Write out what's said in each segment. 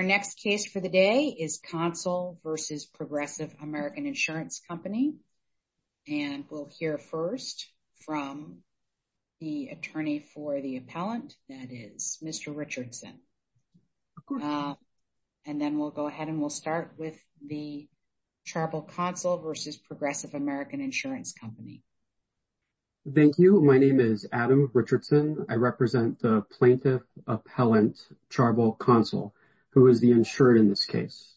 Our next case for the day is Consul v. Progressive American Insurance Company. And we'll hear first from the attorney for the appellant, that is Mr. Richardson. And then we'll go ahead and we'll start with the Charbel Consul v. Progressive American Insurance Company. Thank you. My name is Adam Richardson. I represent the Plaintiff Appellant Charbel Consul, who is the insured in this case.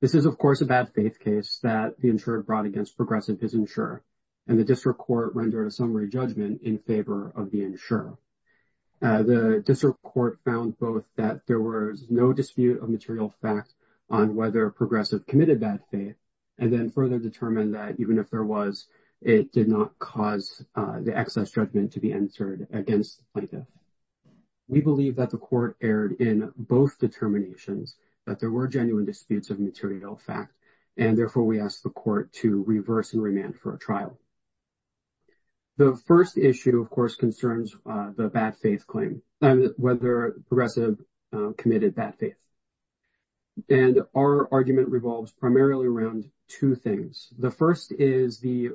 This is, of course, a bad faith case that the insured brought against Progressive is insure. And the district court rendered a summary judgment in favor of the insurer. The district court found both that there was no dispute of material facts on whether Progressive committed bad faith, and then further determined that even if there was, it did not cause the excess judgment to be entered against the plaintiff. We believe that the court erred in both determinations, that there were genuine disputes of material fact. And therefore, we asked the court to reverse and remand for a trial. The first issue, of course, concerns the bad faith claim and whether Progressive committed bad faith. And our argument revolves primarily around two things. The first is the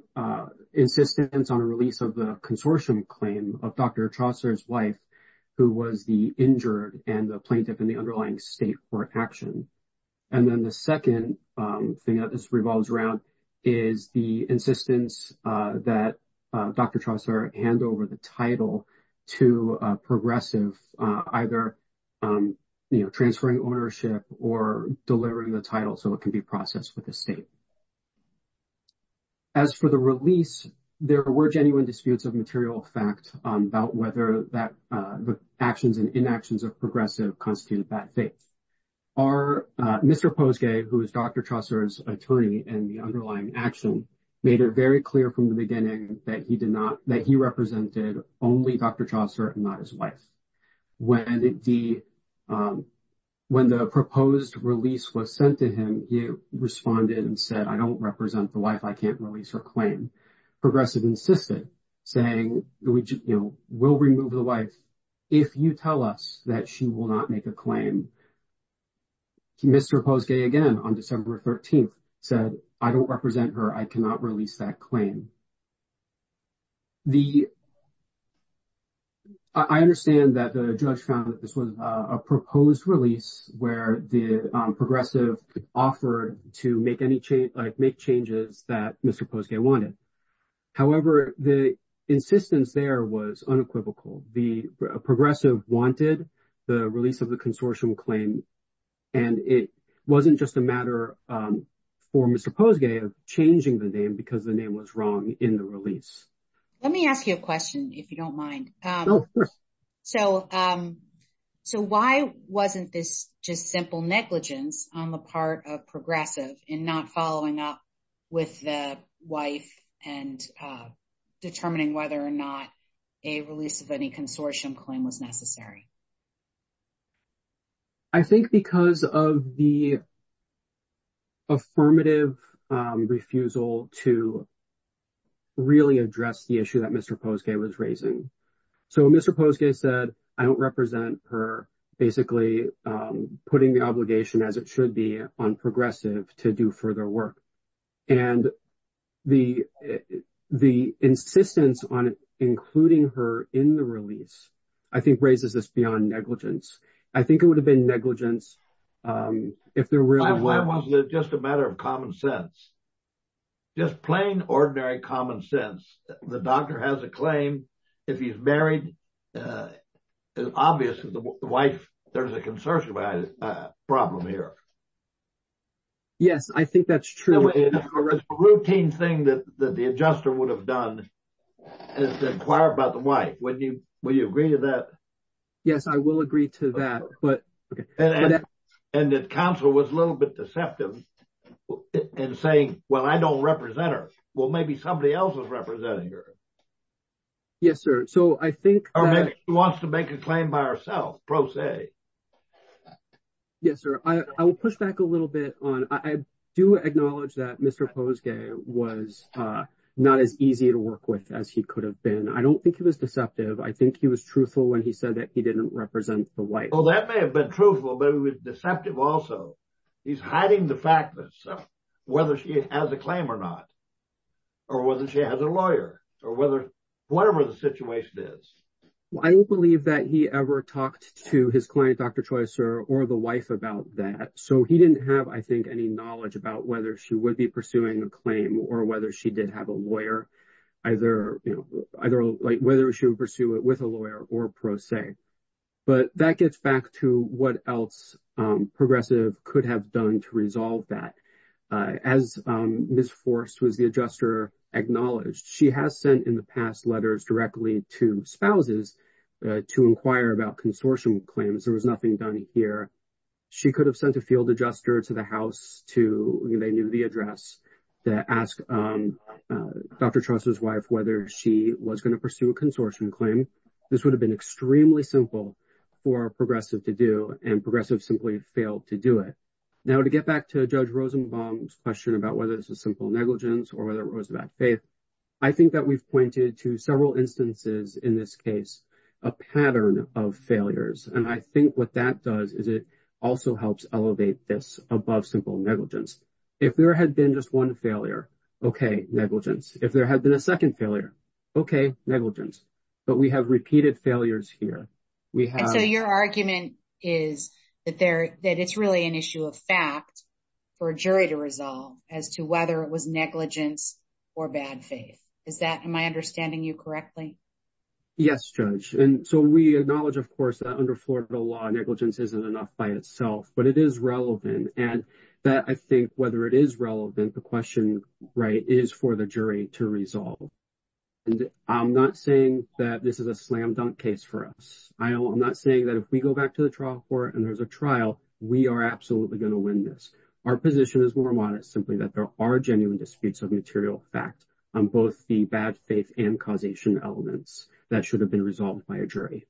insistence on release of the consortium claim of Dr. Chaucer's wife, who was the injured and the plaintiff in the underlying state for action. And then the second thing that this revolves around is the insistence that Dr. Chaucer hand over the title to Progressive, either transferring ownership or delivering the title so it can be processed with the state. As for the release, there were genuine disputes of material fact about whether the actions and inactions of Progressive constituted bad faith. Mr. Posgay, who is Dr. Chaucer's attorney in the underlying action, made it very clear from the beginning that he represented only Dr. Chaucer and not his wife. When the proposed release was sent to him, he responded and said, I don't represent the wife. I can't release her claim. Progressive insisted, saying, we'll remove the wife if you tell us that she will not make a claim. Mr. Posgay again on December 13th said, I don't represent her. I cannot release that claim. I understand that the judge found that this a proposed release where the Progressive offered to make changes that Mr. Posgay wanted. However, the insistence there was unequivocal. The Progressive wanted the release of the consortium claim and it wasn't just a matter for Mr. Posgay of changing the name because the name was wrong in the release. Let me ask you a question if you don't mind. Oh, of course. So why wasn't this just simple negligence on the part of Progressive in not following up with the wife and determining whether or not a release of any consortium claim was necessary? I think because of the affirmative refusal to really address the Mr. Posgay was raising. So Mr. Posgay said, I don't represent her basically putting the obligation as it should be on Progressive to do further work. And the insistence on including her in the release, I think raises this beyond negligence. I think it would have been negligence if there were... Why wasn't it just a matter of common sense? Just plain ordinary common sense. The doctor has a claim. If he's married, it's obvious that the wife, there's a consortium problem here. Yes, I think that's true. The routine thing that the adjuster would have done is to inquire about the wife. Would you agree to that? Yes, I will agree to that. And that counsel was a little bit deceptive in saying, well, I don't represent her. Well, maybe somebody else is representing her. Yes, sir. So I think... Or maybe she wants to make a claim by herself, pro se. Yes, sir. I will push back a little bit on... I do acknowledge that Mr. Posgay was not as easy to work with as he could have been. I don't think he was deceptive. I think he was truthful when he said that he didn't represent the wife. Well, that may have been truthful, but he was deceptive also. He's hiding the fact that whether she has a claim or not, or whether she has a lawyer, or whatever the situation is. I don't believe that he ever talked to his client, Dr. Troy, sir, or the wife about that. So he didn't have, I think, any knowledge about whether she would be pursuing a claim or whether she did have a lawyer, either whether she would pursue it with a lawyer or pro se. But that gets back to what else Progressive could have done to resolve that. As Ms. Forst, who is the adjuster, acknowledged, she has sent in the past letters directly to spouses to inquire about consortium claims. There was nothing done here. She could have sent a field adjuster to the house to... They knew the address to ask Dr. Trost's wife whether she was going to pursue a consortium claim. This would have been extremely simple for Progressive to do, and Progressive simply failed to do it. Now, to get back to Judge Rosenbaum's question about whether this is a simple negligence or whether it was a bad faith, I think that we've pointed to several instances in this case, a pattern of failures. And I think what that does is it also helps elevate this above simple negligence. If there had been just one failure, okay, negligence. If there had been a second failure, okay, negligence. But we have repeated failures here. We have... And so your argument is that it's really an issue of fact for a jury to resolve as to whether it was negligence or bad faith. Is that... Am I understanding you correctly? Yes, Judge. And so we acknowledge, of course, that under Florida law, negligence isn't enough by itself, but it is relevant. And that, I think, whether it is relevant, the question is for the jury to resolve. And I'm not saying that this is a slam-dunk case for us. I'm not saying that if we go back to the trial court and there's a trial, we are absolutely going to win this. Our position is more modest, simply that there are genuine disputes of material fact on both the bad faith and causation elements that should have been resolved by a jury.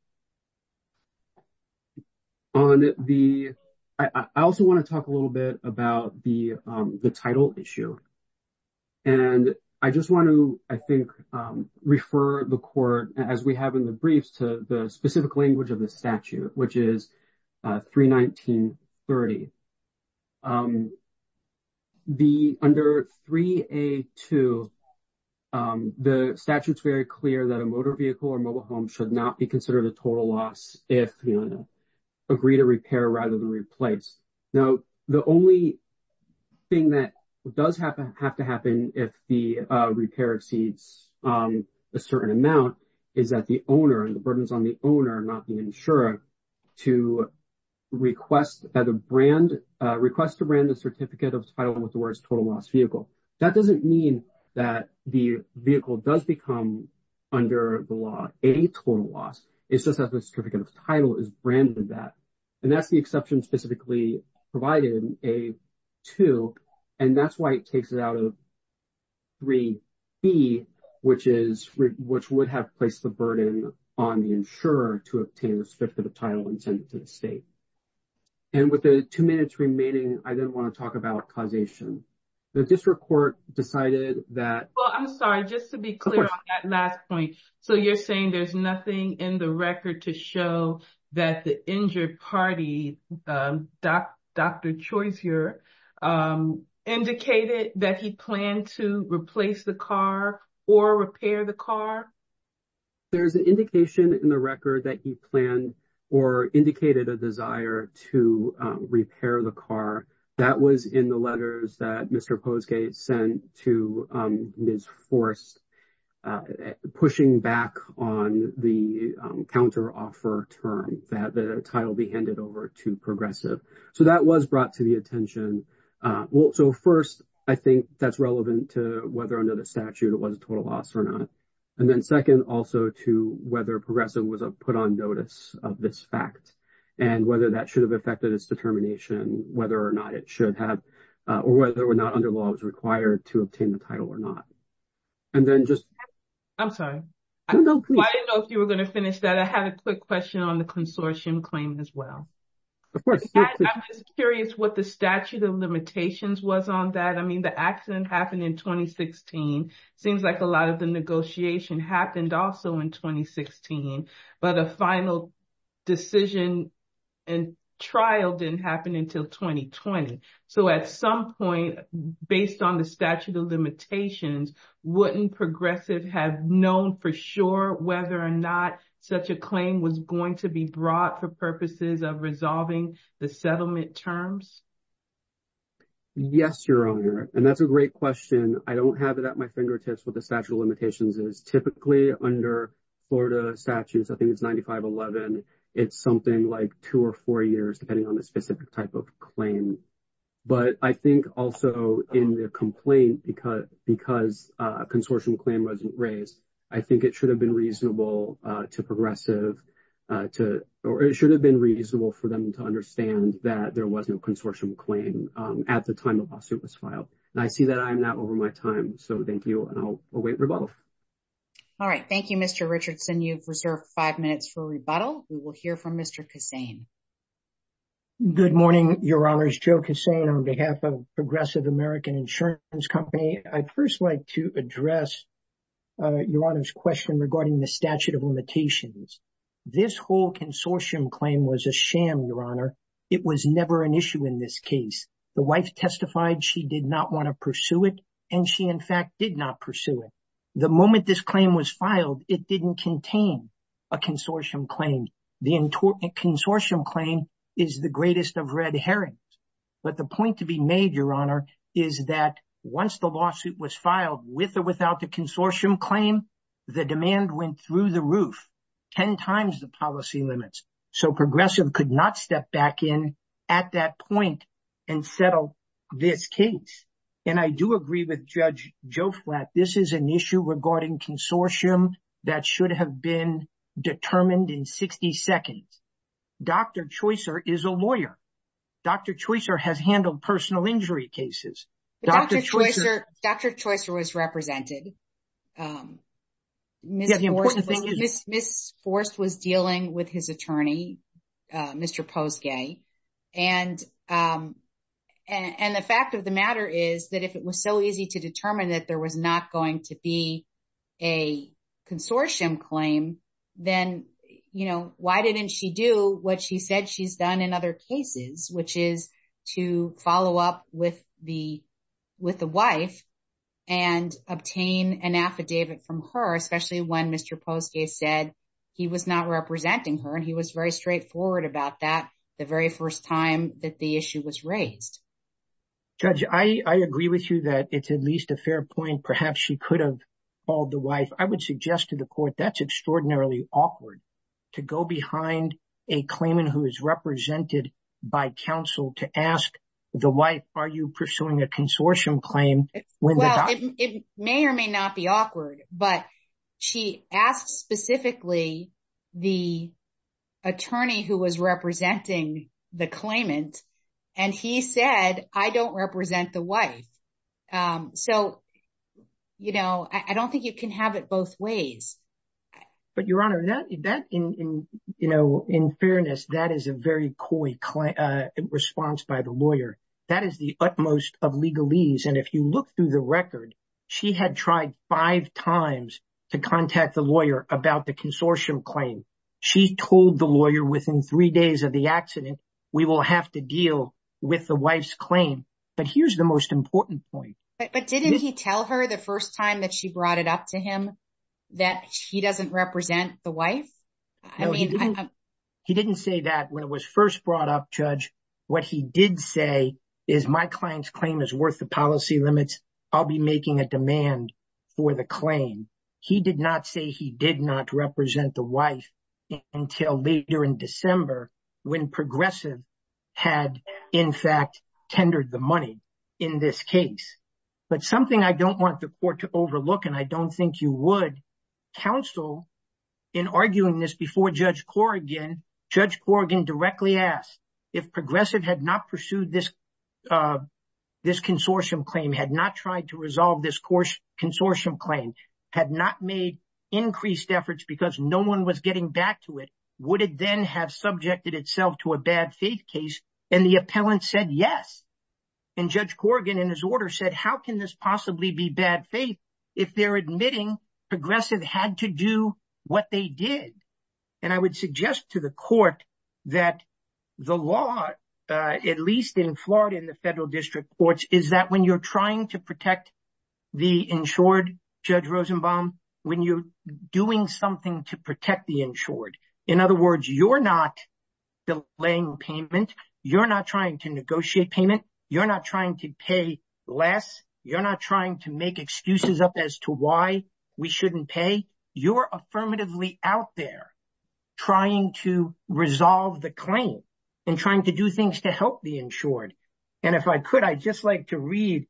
On the... I also want to talk a little bit about the title issue. And I just want to, I think, refer the court, as we have in the briefs, to the specific language of the statute, which is 319.30. Under 3A.2, the statute's very clear that a motor vehicle or mobile home should not be considered a total loss if you agree to repair rather than replace. Now, the only thing that does have to happen if the repair exceeds a certain amount is that the owner, and the burdens on the owner, not the insurer, to request that a brand, request to brand the certificate of title with the words total loss vehicle. That doesn't mean that the vehicle does become, under the law, a total loss. It's just that the certificate of title is branded that. And that's the exception specifically provided in A.2. And that's why it takes it out of 3B, which is, which would have placed the burden on the insurer to obtain the certificate of title and send it to the state. And with the two minutes remaining, I then want to talk about causation. The district court decided that... Well, I'm sorry, just to be clear. That last point. So, you're saying there's nothing in the record to show that the injured party, Dr. Choiseur, indicated that he planned to replace the car or repair the car? There's an indication in the record that he planned or indicated a desire to repair the car. That was in the letters that Mr. Posgate sent to Ms. Forrest, pushing back on the counter-offer term that the title be handed over to Progressive. So, that was brought to the attention. So, first, I think that's relevant to whether under the statute it was a total loss or not. And then, second, also to whether Progressive was put on notice of this fact and whether that have affected its determination, whether or not it should have or whether or not under law it was required to obtain the title or not. And then just... I'm sorry. I didn't know if you were going to finish that. I had a quick question on the consortium claim as well. I'm just curious what the statute of limitations was on that. I mean, the accident happened in 2016. Seems like a lot of the negotiation happened also in 2016, but a final decision and trial didn't happen until 2020. So, at some point, based on the statute of limitations, wouldn't Progressive have known for sure whether or not such a claim was going to be brought for purposes of resolving the settlement terms? Yes, Your Honor. And that's a great question. I don't have it at my fingertips what the statute of limitations is. Typically, under Florida statutes, I think it's 9511, it's something like two or four years, depending on the specific type of claim. But I think also in the complaint, because a consortium claim wasn't raised, I think it should have been reasonable to Progressive to... It should have been reasonable for them to understand that there was no consortium claim at the time the lawsuit was filed. And I see that I'm not over my time. So, thank you, and I'll await rebuttal. All right. Thank you, Mr. Richardson. You've reserved five minutes for rebuttal. We will hear from Mr. Kassane. Good morning, Your Honors. Joe Kassane on behalf of Progressive American Insurance Company. I'd first like to address Your Honor's question regarding the statute of limitations. This whole consortium claim was a sham, Your Honor. It was never an issue in this case. The wife testified she did not want to pursue it, and she, in fact, did not pursue it. The moment this claim was filed, it didn't contain a consortium claim. The consortium claim is the greatest of red herrings. But the point to be made, Your Honor, is that once the lawsuit was filed with or without the consortium claim, the demand went through the roof 10 times the policy limits. So, Progressive could not step back in at that point and settle this case. And I do agree with Judge Joe Flatt. This is an issue regarding consortium that should have been determined in 60 seconds. Dr. Choicer is a lawyer. Dr. Choicer has handled personal injury cases. Dr. Choicer was represented. Ms. Forst was dealing with his attorney, Mr. Posgay. And the fact of the matter is that if it was so easy to determine that there was not going to be a consortium claim, then, you know, why didn't she do what she said she's done in other cases, which is to follow up with the wife and obtain an affidavit from her, especially when Mr. Posgay said he was not representing her. And he was very straightforward about that the very first time that the issue was raised. Judge, I agree with you that it's at least a fair point. Perhaps she could have called the wife. I would suggest to the court that's extraordinarily awkward to go behind a claimant who is represented by counsel to ask the wife, are you pursuing a consortium claim? Well, it may or may not be awkward. But she asked specifically the attorney who was representing the claimant. And he said, I don't represent the wife. So, you know, I don't think you can have it both ways. But, Your Honor, in fairness, that is a very coy response by the lawyer. That is the utmost of legalese. And if you look through the record, she had tried five times to contact the lawyer about the consortium claim. She told the lawyer within three days of the accident, we will have to deal with the wife's claim. But here's the most important point. But didn't he tell her the first time that she brought it up to him that he doesn't represent the wife? He didn't say that when it was first brought up, Judge. What he did say is my client's claim is worth the policy limits. I'll be making a demand for the claim. He did not say he did not represent the wife until later in December when Progressive had, in fact, tendered the money in this case. But something I don't want the court to overlook, and I don't think you would, counsel, in arguing this before Judge Corrigan, Judge Corrigan directly asked if Progressive had not pursued this consortium claim, had not tried to resolve this consortium claim, had not made increased efforts because no one was getting back to it, would it then have subjected itself to a bad faith case? And the appellant said, yes. And Judge Corrigan, in his order, said, how can this possibly be bad faith if they're admitting Progressive had to do what they did? And I would suggest to the court that the law, at least in Florida, in the federal district courts, is that when you're trying to protect the insured, Judge Rosenbaum, when you're doing something to protect the insured, in other words, you're not delaying payment, you're not trying to negotiate payment, you're not trying to pay less, you're not trying to make excuses up as to why we shouldn't pay, you're affirmatively out there trying to resolve the claim and trying to do things to help the insured. And if I could, I'd just like to read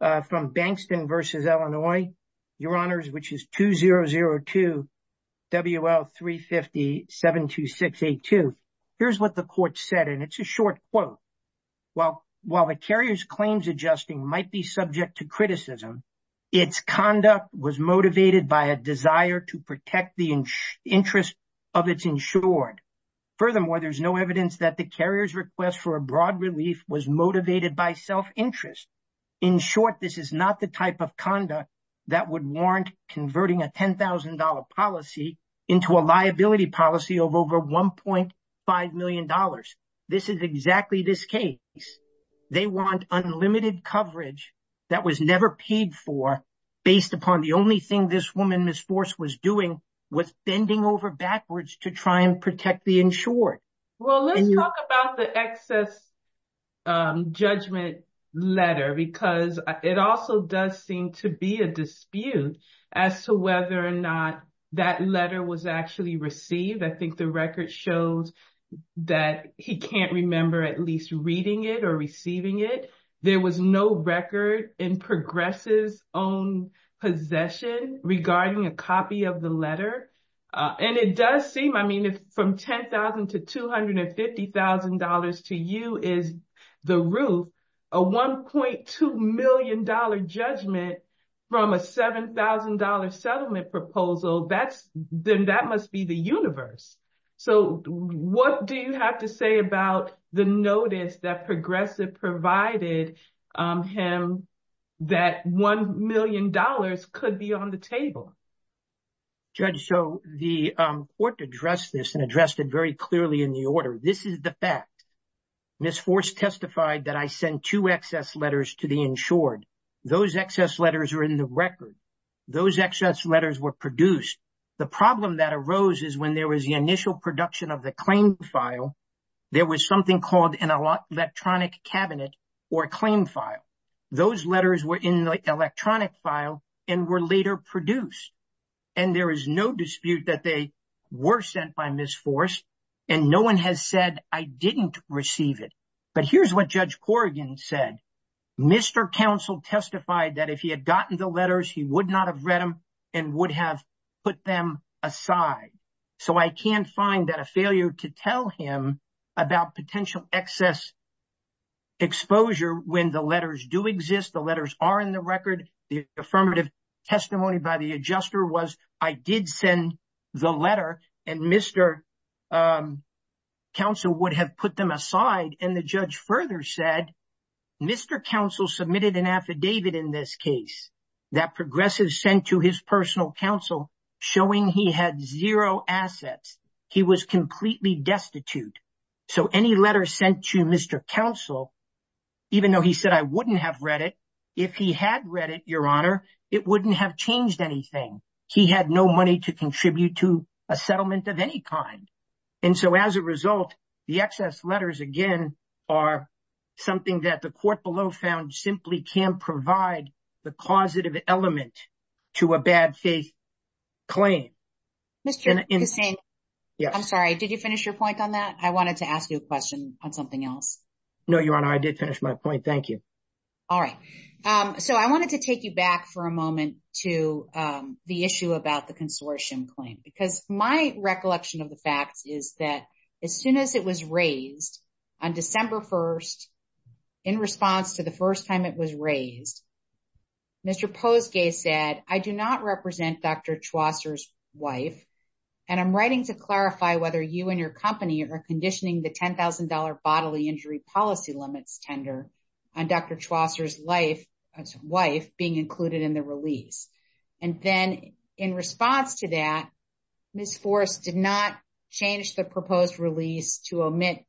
from Bankston v. Illinois, Your Honors, which is 2002 WL350-72682. Here's what the court said, and it's a short quote. While the carrier's claims adjusting might be subject to criticism, its conduct was motivated by a desire to protect the interest of its insured. Furthermore, there's no evidence that the carrier's request for a broad relief was motivated by self-interest. In short, this is not the type of conduct that would warrant converting a $10,000 policy into a liability policy of over $1.5 million. This is exactly this case. They want unlimited coverage that was never paid for based upon the only thing this woman, Ms. Force, was doing was bending over backwards to try and protect the insured. Well, let's talk about the excess judgment letter because it also does seem to be a dispute as to whether or not that letter was actually received. I think the record shows that he can't remember at least reading it or receiving it. There was no record in Progress' own possession regarding a copy of the letter. And it does seem, I mean, if from $10,000 to $250,000 to you is the roof, a $1.2 million judgment from a $7,000 settlement proposal, then that must be the universe. So what do you have to say about the notice that Progressive provided him that $1 million could be on the table? Judge, so the court addressed this and addressed it very clearly in the order. This is the fact. Ms. Force testified that I sent two excess letters to the insured. Those excess letters are in the record. Those excess letters were produced. The problem that arose is when there was the initial production of the claim file, there was something called an electronic cabinet or a claim file. Those letters were in the electronic file and were later produced. And there is no dispute that they were sent by Ms. Force. And no one has said I didn't receive it. But here's what Judge Corrigan said. Mr. Counsel testified that if he had gotten the letters, he would not have read them and would have put them aside. So I can't find that a failure to tell him about potential excess exposure when the letters do exist, the letters are in the record. The affirmative testimony by the adjuster was I did send the letter and Mr. Counsel would have put them aside. And the judge further said Mr. Counsel submitted an affidavit in this case that Progressive sent to his personal counsel showing he had zero assets. He was completely destitute. So any letter sent to Mr. Counsel, even though he said I wouldn't have read it, if he had read it, Your Honor, it wouldn't have changed anything. He had no money to contribute to a settlement of any kind. And so as a result, the excess letters, again, are something that the court below found provide the causative element to a bad faith claim. Mr. Kucin, I'm sorry, did you finish your point on that? I wanted to ask you a question on something else. No, Your Honor, I did finish my point. Thank you. All right. So I wanted to take you back for a moment to the issue about the consortium claim, because my recollection of the facts is that as soon as it was raised on December 1, in response to the first time it was raised, Mr. Posgay said, I do not represent Dr. Chaucer's wife. And I'm writing to clarify whether you and your company are conditioning the $10,000 bodily injury policy limits tender on Dr. Chaucer's wife being included in the release. And then in response to that, Ms. Forrest did not change the proposed release to omit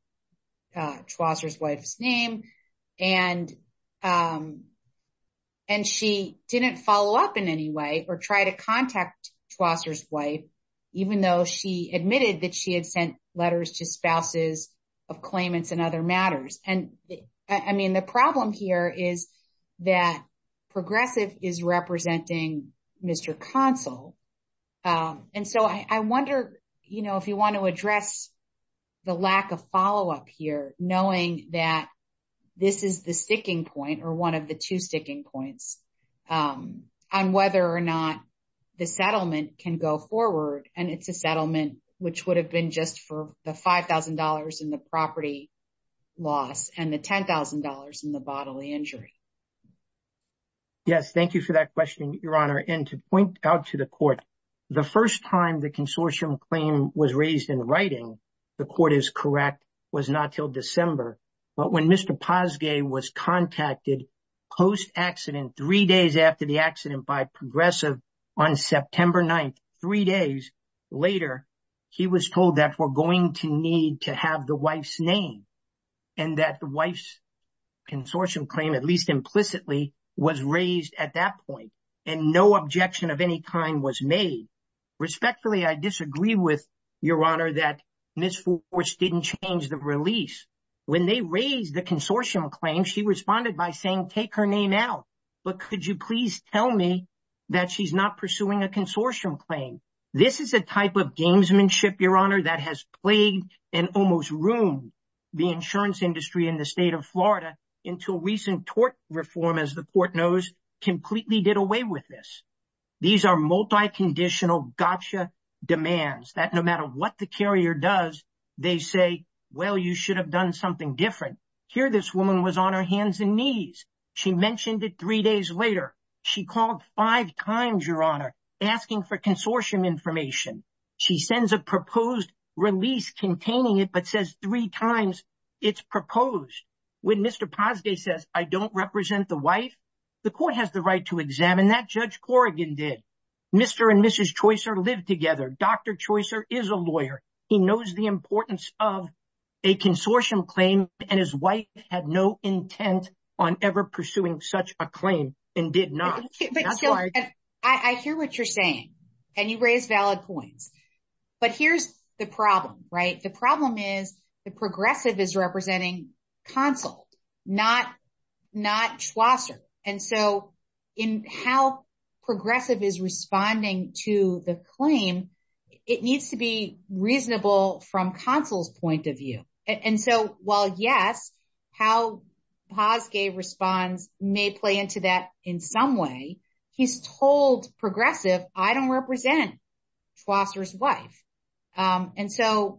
Chaucer's wife's name. And she didn't follow up in any way or try to contact Chaucer's wife, even though she admitted that she had sent letters to spouses of claimants and other matters. And I mean, the problem here is that Progressive is representing Mr. Consul. And so I wonder, you know, if you want to address the lack of follow up here, knowing that this is the sticking point or one of the two sticking points on whether or not the settlement can go forward. And it's a settlement, which would have been just for the $5,000 in the property loss and the $10,000 in the bodily injury. Yes, thank you for that question, Your Honor. And to point out to the court, the first time the consortium claim was raised in writing, the court is correct, was not till December. But when Mr. Posgay was contacted post-accident, three days after the accident by Progressive on September 9th, three days later, he was told that we're going to need to have the wife's name and that the wife's consortium claim, at least implicitly, was raised at that point. And no objection of any kind was made. Respectfully, I disagree with Your Honor that Ms. Fors didn't change the release. When they raised the consortium claim, she responded by saying, take her name out. But could you please tell me that she's not pursuing a consortium claim? This is a type of gamesmanship, Your Honor, that has plagued and almost ruined the insurance industry in the state of Florida until recent tort reform, as the court knows, completely did away with this. These are multi-conditional gotcha demands that no matter what the carrier does, they say, well, you should have done something different. Here this woman was on her hands and knees. She mentioned it three days later. She called five times, Your Honor, asking for consortium information. She sends a proposed release containing it, but says three times it's proposed. When Mr. Posgay says, I don't represent the wife, the court has the right to examine that. Judge Corrigan did. Mr. and Mrs. Choicer lived together. Dr. Choicer is a lawyer. He knows the importance of a consortium claim, and his wife had no intent on ever pursuing such a claim and did not. But I hear what you're saying, and you raise valid points, but here's the problem, right? The problem is the progressive is representing consul, not Choicer. And so in how progressive is responding to the claim, it needs to be reasonable from consul's point of view. And so while yes, how Posgay responds may play into that in some way. He's told progressive, I don't represent Choicer's wife. And so,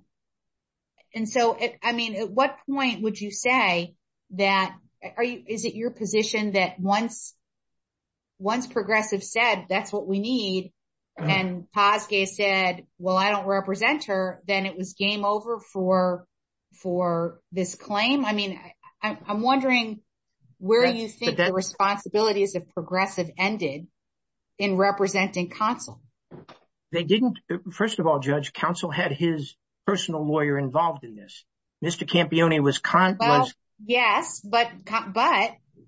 I mean, at what point would you say that, is it your position that once progressive said, that's what we need, and Posgay said, well, I don't represent her, then it was game over for this claim? I mean, I'm wondering where you think the responsibilities of progressive ended in representing consul? They didn't. First of all, Judge, consul had his personal lawyer involved in this. Mr. Campione was- Well, yes, but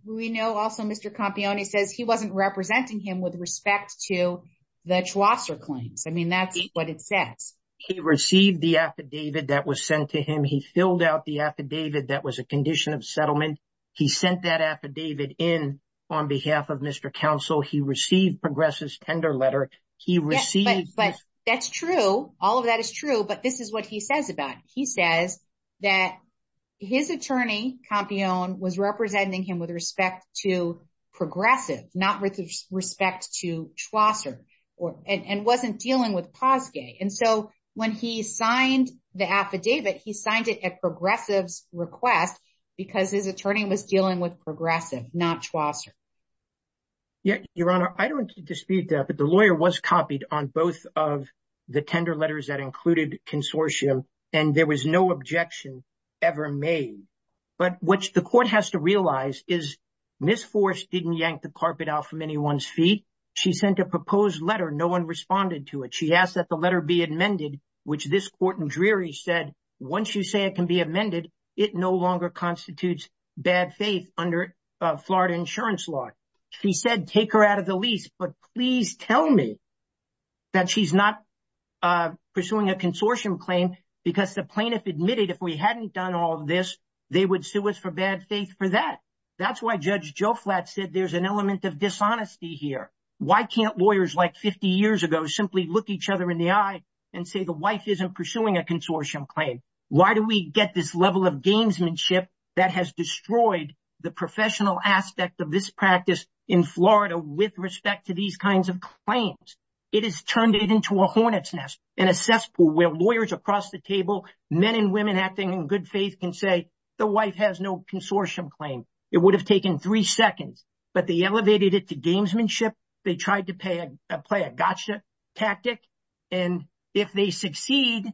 we know also Mr. Campione says he wasn't representing him with respect to the Choicer claims. I mean, that's what it says. He received the affidavit that was sent to him. He filled out the affidavit that was a condition of settlement. He sent that affidavit in on behalf of Mr. Consul. He received progressive's tender letter. He received- But that's true. All of that is true, but this is what he says about it. He says that his attorney, and wasn't dealing with Posgay. And so when he signed the affidavit, he signed it at progressive's request because his attorney was dealing with progressive, not Choicer. Yeah, Your Honor, I don't dispute that, but the lawyer was copied on both of the tender letters that included consortium, and there was no objection ever made. But what the court has realized is Ms. Forrest didn't yank the carpet out from anyone's feet. She sent a proposed letter. No one responded to it. She asked that the letter be amended, which this court in Drury said, once you say it can be amended, it no longer constitutes bad faith under Florida insurance law. She said, take her out of the lease, but please tell me that she's not pursuing a consortium claim because the plaintiff admitted if we hadn't done all this, they would sue us for bad faith for that. That's why Judge Joe Flatt said there's an element of dishonesty here. Why can't lawyers like 50 years ago simply look each other in the eye and say the wife isn't pursuing a consortium claim? Why do we get this level of gamesmanship that has destroyed the professional aspect of this practice in Florida with respect to these kinds of claims? It has turned it into a hornet's nest and a cesspool where lawyers across the table, men and women acting in good faith can say the wife has no consortium claim. It would have taken three seconds, but they elevated it to gamesmanship. They tried to play a gotcha tactic. And if they succeed,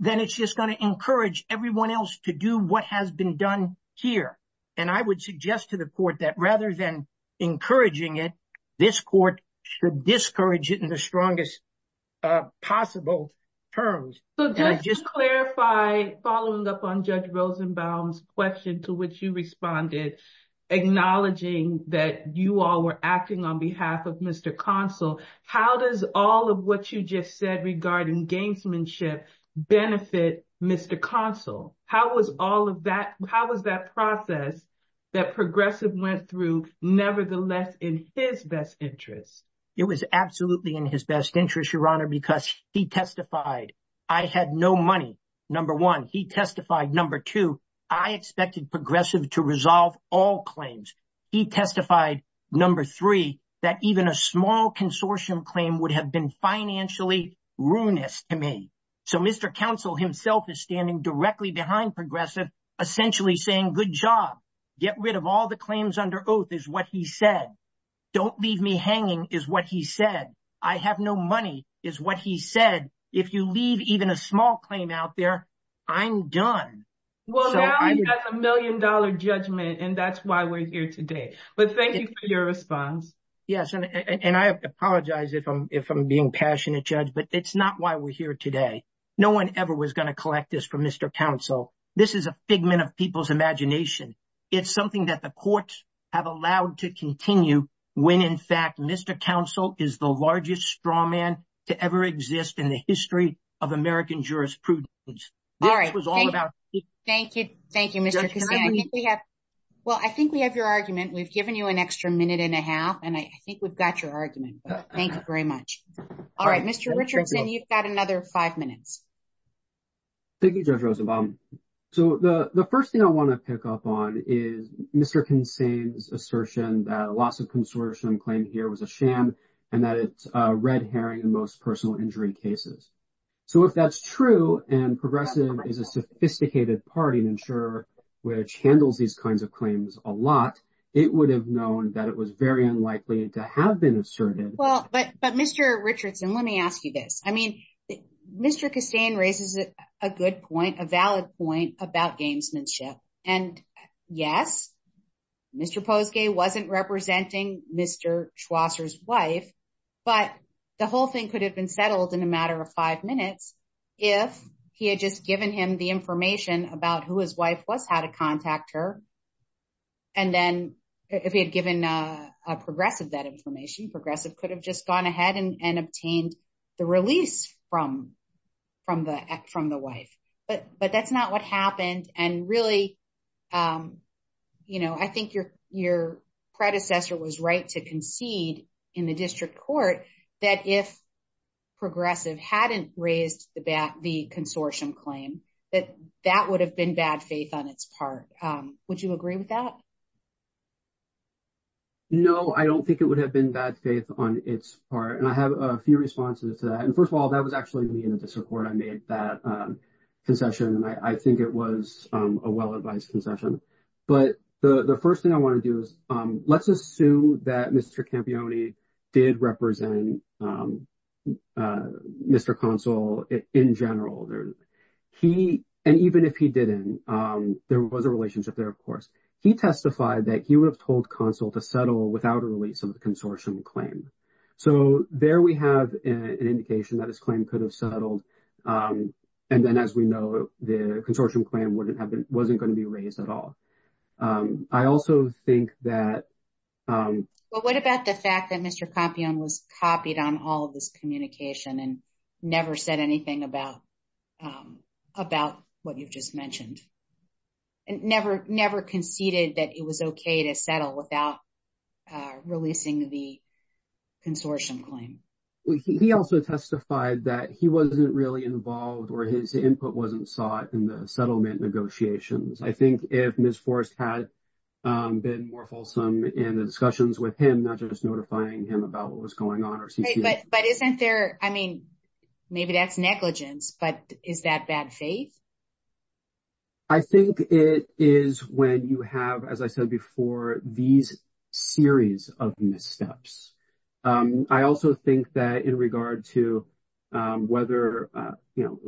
then it's just going to encourage everyone else to do what has been done here. And I would suggest to the court that rather than encouraging it, this court should discourage it in the strongest possible terms. So just to clarify, following up on Judge Rosenbaum's question to which you responded, acknowledging that you all were acting on behalf of Mr. Consul, how does all of what you just said regarding gamesmanship benefit Mr. Consul? How was all of that, how was that process that Progressive went through nevertheless in his best interest? It was absolutely in his best interest, Your Honor, because he testified. I had no money, number one. He testified. Number two, I expected Progressive to resolve all claims. He testified, number three, that even a small consortium claim would have been financially ruinous to me. So Mr. Consul himself is standing directly behind Progressive, essentially saying, good job. Get rid of the claims under oath, is what he said. Don't leave me hanging, is what he said. I have no money, is what he said. If you leave even a small claim out there, I'm done. Well, now you have a million-dollar judgment, and that's why we're here today. But thank you for your response. Yes, and I apologize if I'm being passionate, Judge, but it's not why we're here today. No one ever was going to collect this from Mr. Consul. This is a figment of people's imagination. It's something that the courts have allowed to continue when, in fact, Mr. Consul is the largest straw man to ever exist in the history of American jurisprudence. All right. Thank you. Thank you, Mr. Cassin. Well, I think we have your argument. We've given you an extra minute and a half, and I think we've got your argument. Thank you very much. All right, Mr. Richardson, you've got another five minutes. Thank you, Judge Roosevelt. So the first thing I want to pick up on is Mr. Cassin's assertion that a loss of consortium claim here was a sham and that it's a red herring in most personal injury cases. So if that's true and Progressive is a sophisticated party and insurer which handles these kinds of claims a lot, it would have known that it was very unlikely to have been asserted. Well, but Mr. Richardson, let me ask you this. I yes, Mr. Posgay wasn't representing Mr. Schwasser's wife, but the whole thing could have been settled in a matter of five minutes if he had just given him the information about who his wife was, how to contact her. And then if he had given Progressive that information, Progressive could have just gone ahead and obtained the release from the wife. But that's what happened. And really, you know, I think your predecessor was right to concede in the district court that if Progressive hadn't raised the consortium claim, that that would have been bad faith on its part. Would you agree with that? No, I don't think it would have been bad faith on its part. And I have a few responses to that. And first of all, that was actually me in the court. I made that concession. And I think it was a well-advised concession. But the first thing I want to do is let's assume that Mr. Campione did represent Mr. Consul in general. He, and even if he didn't, there was a relationship there, of course. He testified that he would have told Consul to settle without a release of the consortium claim. So there we have an indication that his claim could have settled. And then as we know, the consortium claim wouldn't have been, wasn't going to be raised at all. I also think that... Well, what about the fact that Mr. Campione was copied on all of this communication and never said anything about what you've just mentioned? And never conceded that it was okay to settle without releasing the consortium claim? He also testified that he wasn't really involved or his input wasn't sought in the settlement negotiations. I think if Ms. Forrest had been more fulsome in the discussions with him, not just notifying him about what was going on or... But isn't there, I mean, maybe that's negligence, but is that bad faith? I think it is when you have, as I said before, these series of missteps. I also think that in regard to whether, you know,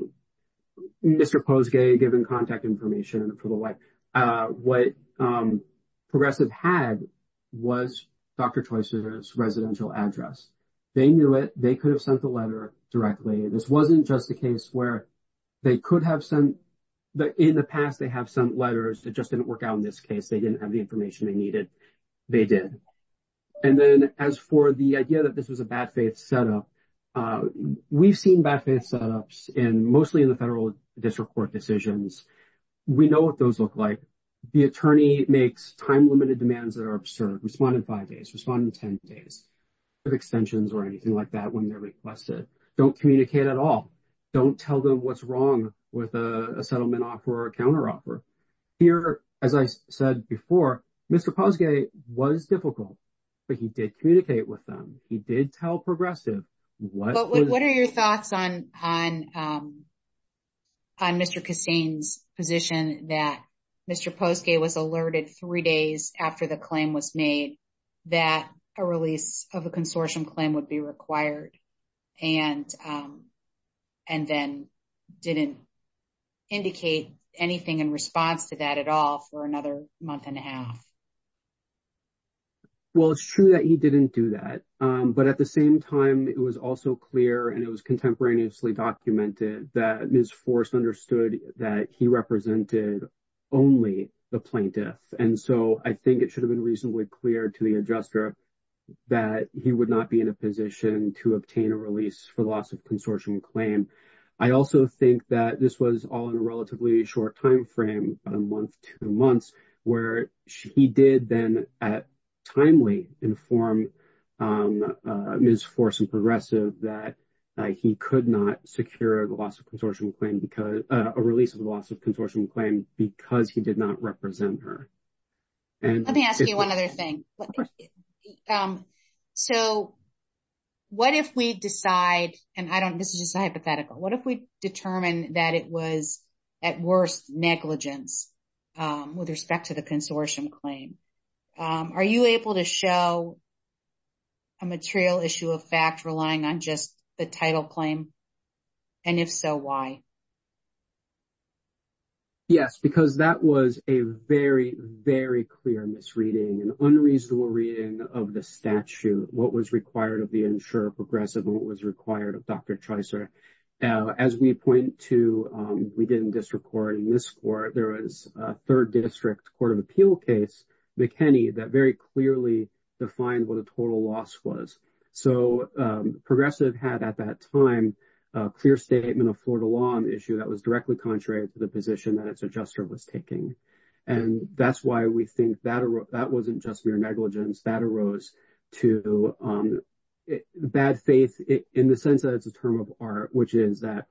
Mr. Posgay given contact information and approval, what Progressive had was Dr. Troisier's residential address. They knew it. They could have sent the letter directly. This wasn't just a case where they could have sent... In the past, they have sent letters. It just didn't work out in this case. They didn't have the information they needed. They did. And then as for the idea that this was a bad faith setup, we've seen bad faith setups in mostly in the federal district court decisions. We know what those look like. The attorney makes time-limited demands that are absurd, respond in five days, respond in 10 days, with extensions or anything like that when they're requested. Don't communicate at all. Don't tell them what's wrong with a settlement offer or a counteroffer. Here, as I said before, Mr. Posgay was difficult, but he did communicate with them. He did tell Progressive what... But what are your thoughts on Mr. Kassane's position that Mr. Posgay was alerted three days after the claim was made that a release of a consortium claim would be required and then didn't indicate anything in response to that at all for another month and a half? Well, it's true that he didn't do that. But at the same time, it was also clear and it was contemporaneously documented that Ms. Forst understood that he represented only the plaintiff. And so I think it should have been reasonably clear to the adjuster that he would not be in a position to obtain a release for the loss of consortium claim. I also think that this was all in a relatively short time frame, a month, two months, where he did then timely inform Ms. Forst and Progressive that he could not secure the loss of consortium claim because... A release of the loss of consortium claim because he did not represent her. Let me ask you one other thing. So what if we decide, and this is just a hypothetical, what if we determine that it was at worst negligence with respect to the consortium claim? Are you able to show a material issue of fact relying on just the title claim? And if so, why? Yes, because that was a very, very clear misreading, an unreasonable reading of the statute, what was required of the insurer, Progressive, and what was required of Dr. Tricer. As we point to, we did in district court in this court, there was a third district court of appeal case, McKinney, that very clearly defined what a issue that was directly contrary to the position that its adjuster was taking. And that's why we think that wasn't just mere negligence, that arose to bad faith in the sense that it's a term of art, which is that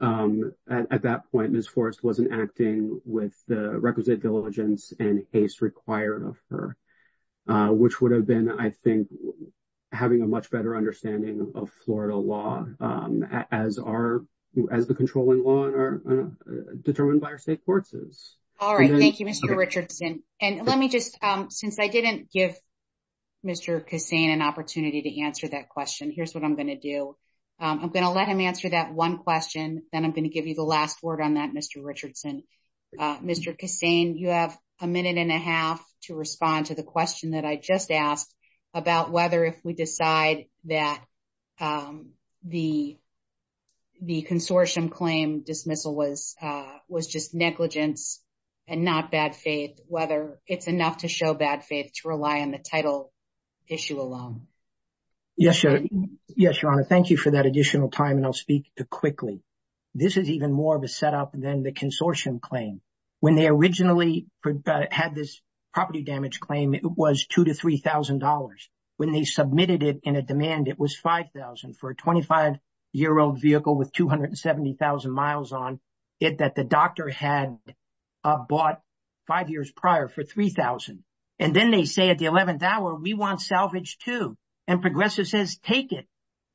at that point, Ms. Forst wasn't acting with the requisite diligence and haste required of her, which would have been, I think, having a much better understanding of Florida law as the controlling law determined by our state courts. All right. Thank you, Mr. Richardson. And let me just, since I didn't give Mr. Kassane an opportunity to answer that question, here's what I'm going to do. I'm going to let him answer that one question, then I'm going to give you the last word on that, Mr. Richardson. Mr. Kassane, you have a minute and a half to respond to the question that I just asked about whether if we decide that the consortium claim dismissal was just negligence and not bad faith, whether it's enough to show bad faith to rely on the title issue alone. Yes, Your Honor. Thank you for that additional time and I'll speak quickly. This is even more of a setup than the consortium claim. When they originally had this property damage claim, it was $2,000 to $3,000. When they submitted it in a demand, it was $5,000 for a 25-year-old vehicle with 270,000 miles on it that the doctor had bought five years prior for $3,000. And then they say at the 11th hour, we want salvage too. And Progressive says, take it.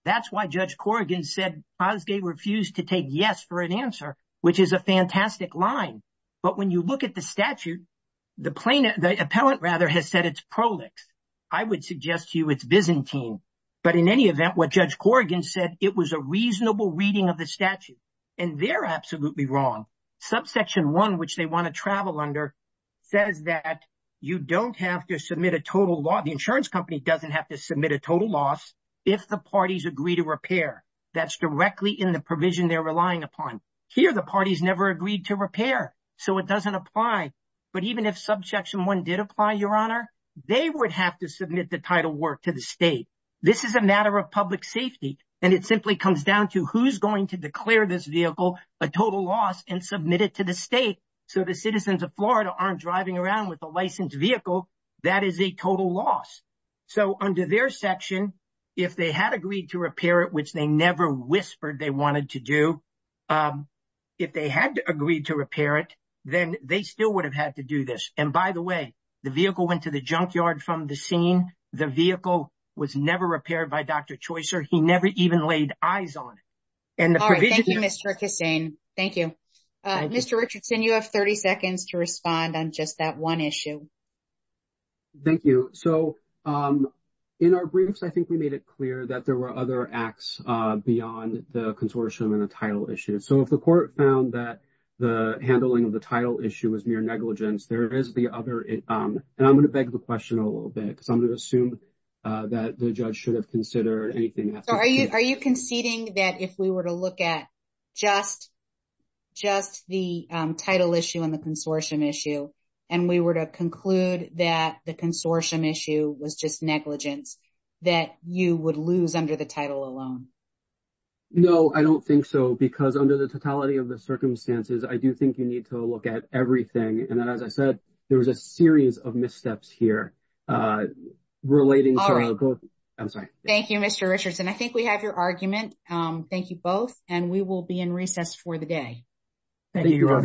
That's why Judge Corrigan said Osgay refused to take yes for an answer, which is a fantastic line. But when you look at the statute, the plaintiff, the appellant rather, has said it's prolix. I would suggest to you it's Byzantine. But in any event, what Judge Corrigan said, it was a reasonable reading of the statute. And they're absolutely wrong. Subsection 1, which they want to travel under, says that you don't have to submit a total loss. The insurance company doesn't have to submit a total loss if the parties agree to repair. That's directly in the provision they're relying upon. Here, the parties never agreed to repair, so it doesn't apply. But even if Subsection 1 did apply, they would have to submit the title work to the state. This is a matter of public safety, and it simply comes down to who's going to declare this vehicle a total loss and submit it to the state so the citizens of Florida aren't driving around with a licensed vehicle that is a total loss. So under their section, if they had agreed to repair it, which they never whispered they wanted to do, if they had agreed to repair it, then they still would have had to do this. And by the way, the vehicle went to the junkyard from the scene. The vehicle was never repaired by Dr. Choyser. He never even laid eyes on it. And the provision... All right. Thank you, Mr. Cassane. Thank you. Mr. Richardson, you have 30 seconds to respond on just that one issue. Thank you. So in our briefs, we made it clear that there were other acts beyond the consortium and the title issue. So if the court found that the handling of the title issue was mere negligence, there is the other... And I'm going to beg the question a little bit because I'm going to assume that the judge should have considered anything else. So are you conceding that if we were to look at just the title issue and the consortium issue, and we were to conclude that the consortium issue was just negligence, that you would lose under the title alone? No, I don't think so. Because under the totality of the circumstances, I do think you need to look at everything. And then as I said, there was a series of missteps here relating to... All right. I'm sorry. Thank you, Mr. Richardson. I think we have your argument. Thank you both. And we will be in recess for the day. Thank you, Your Honors.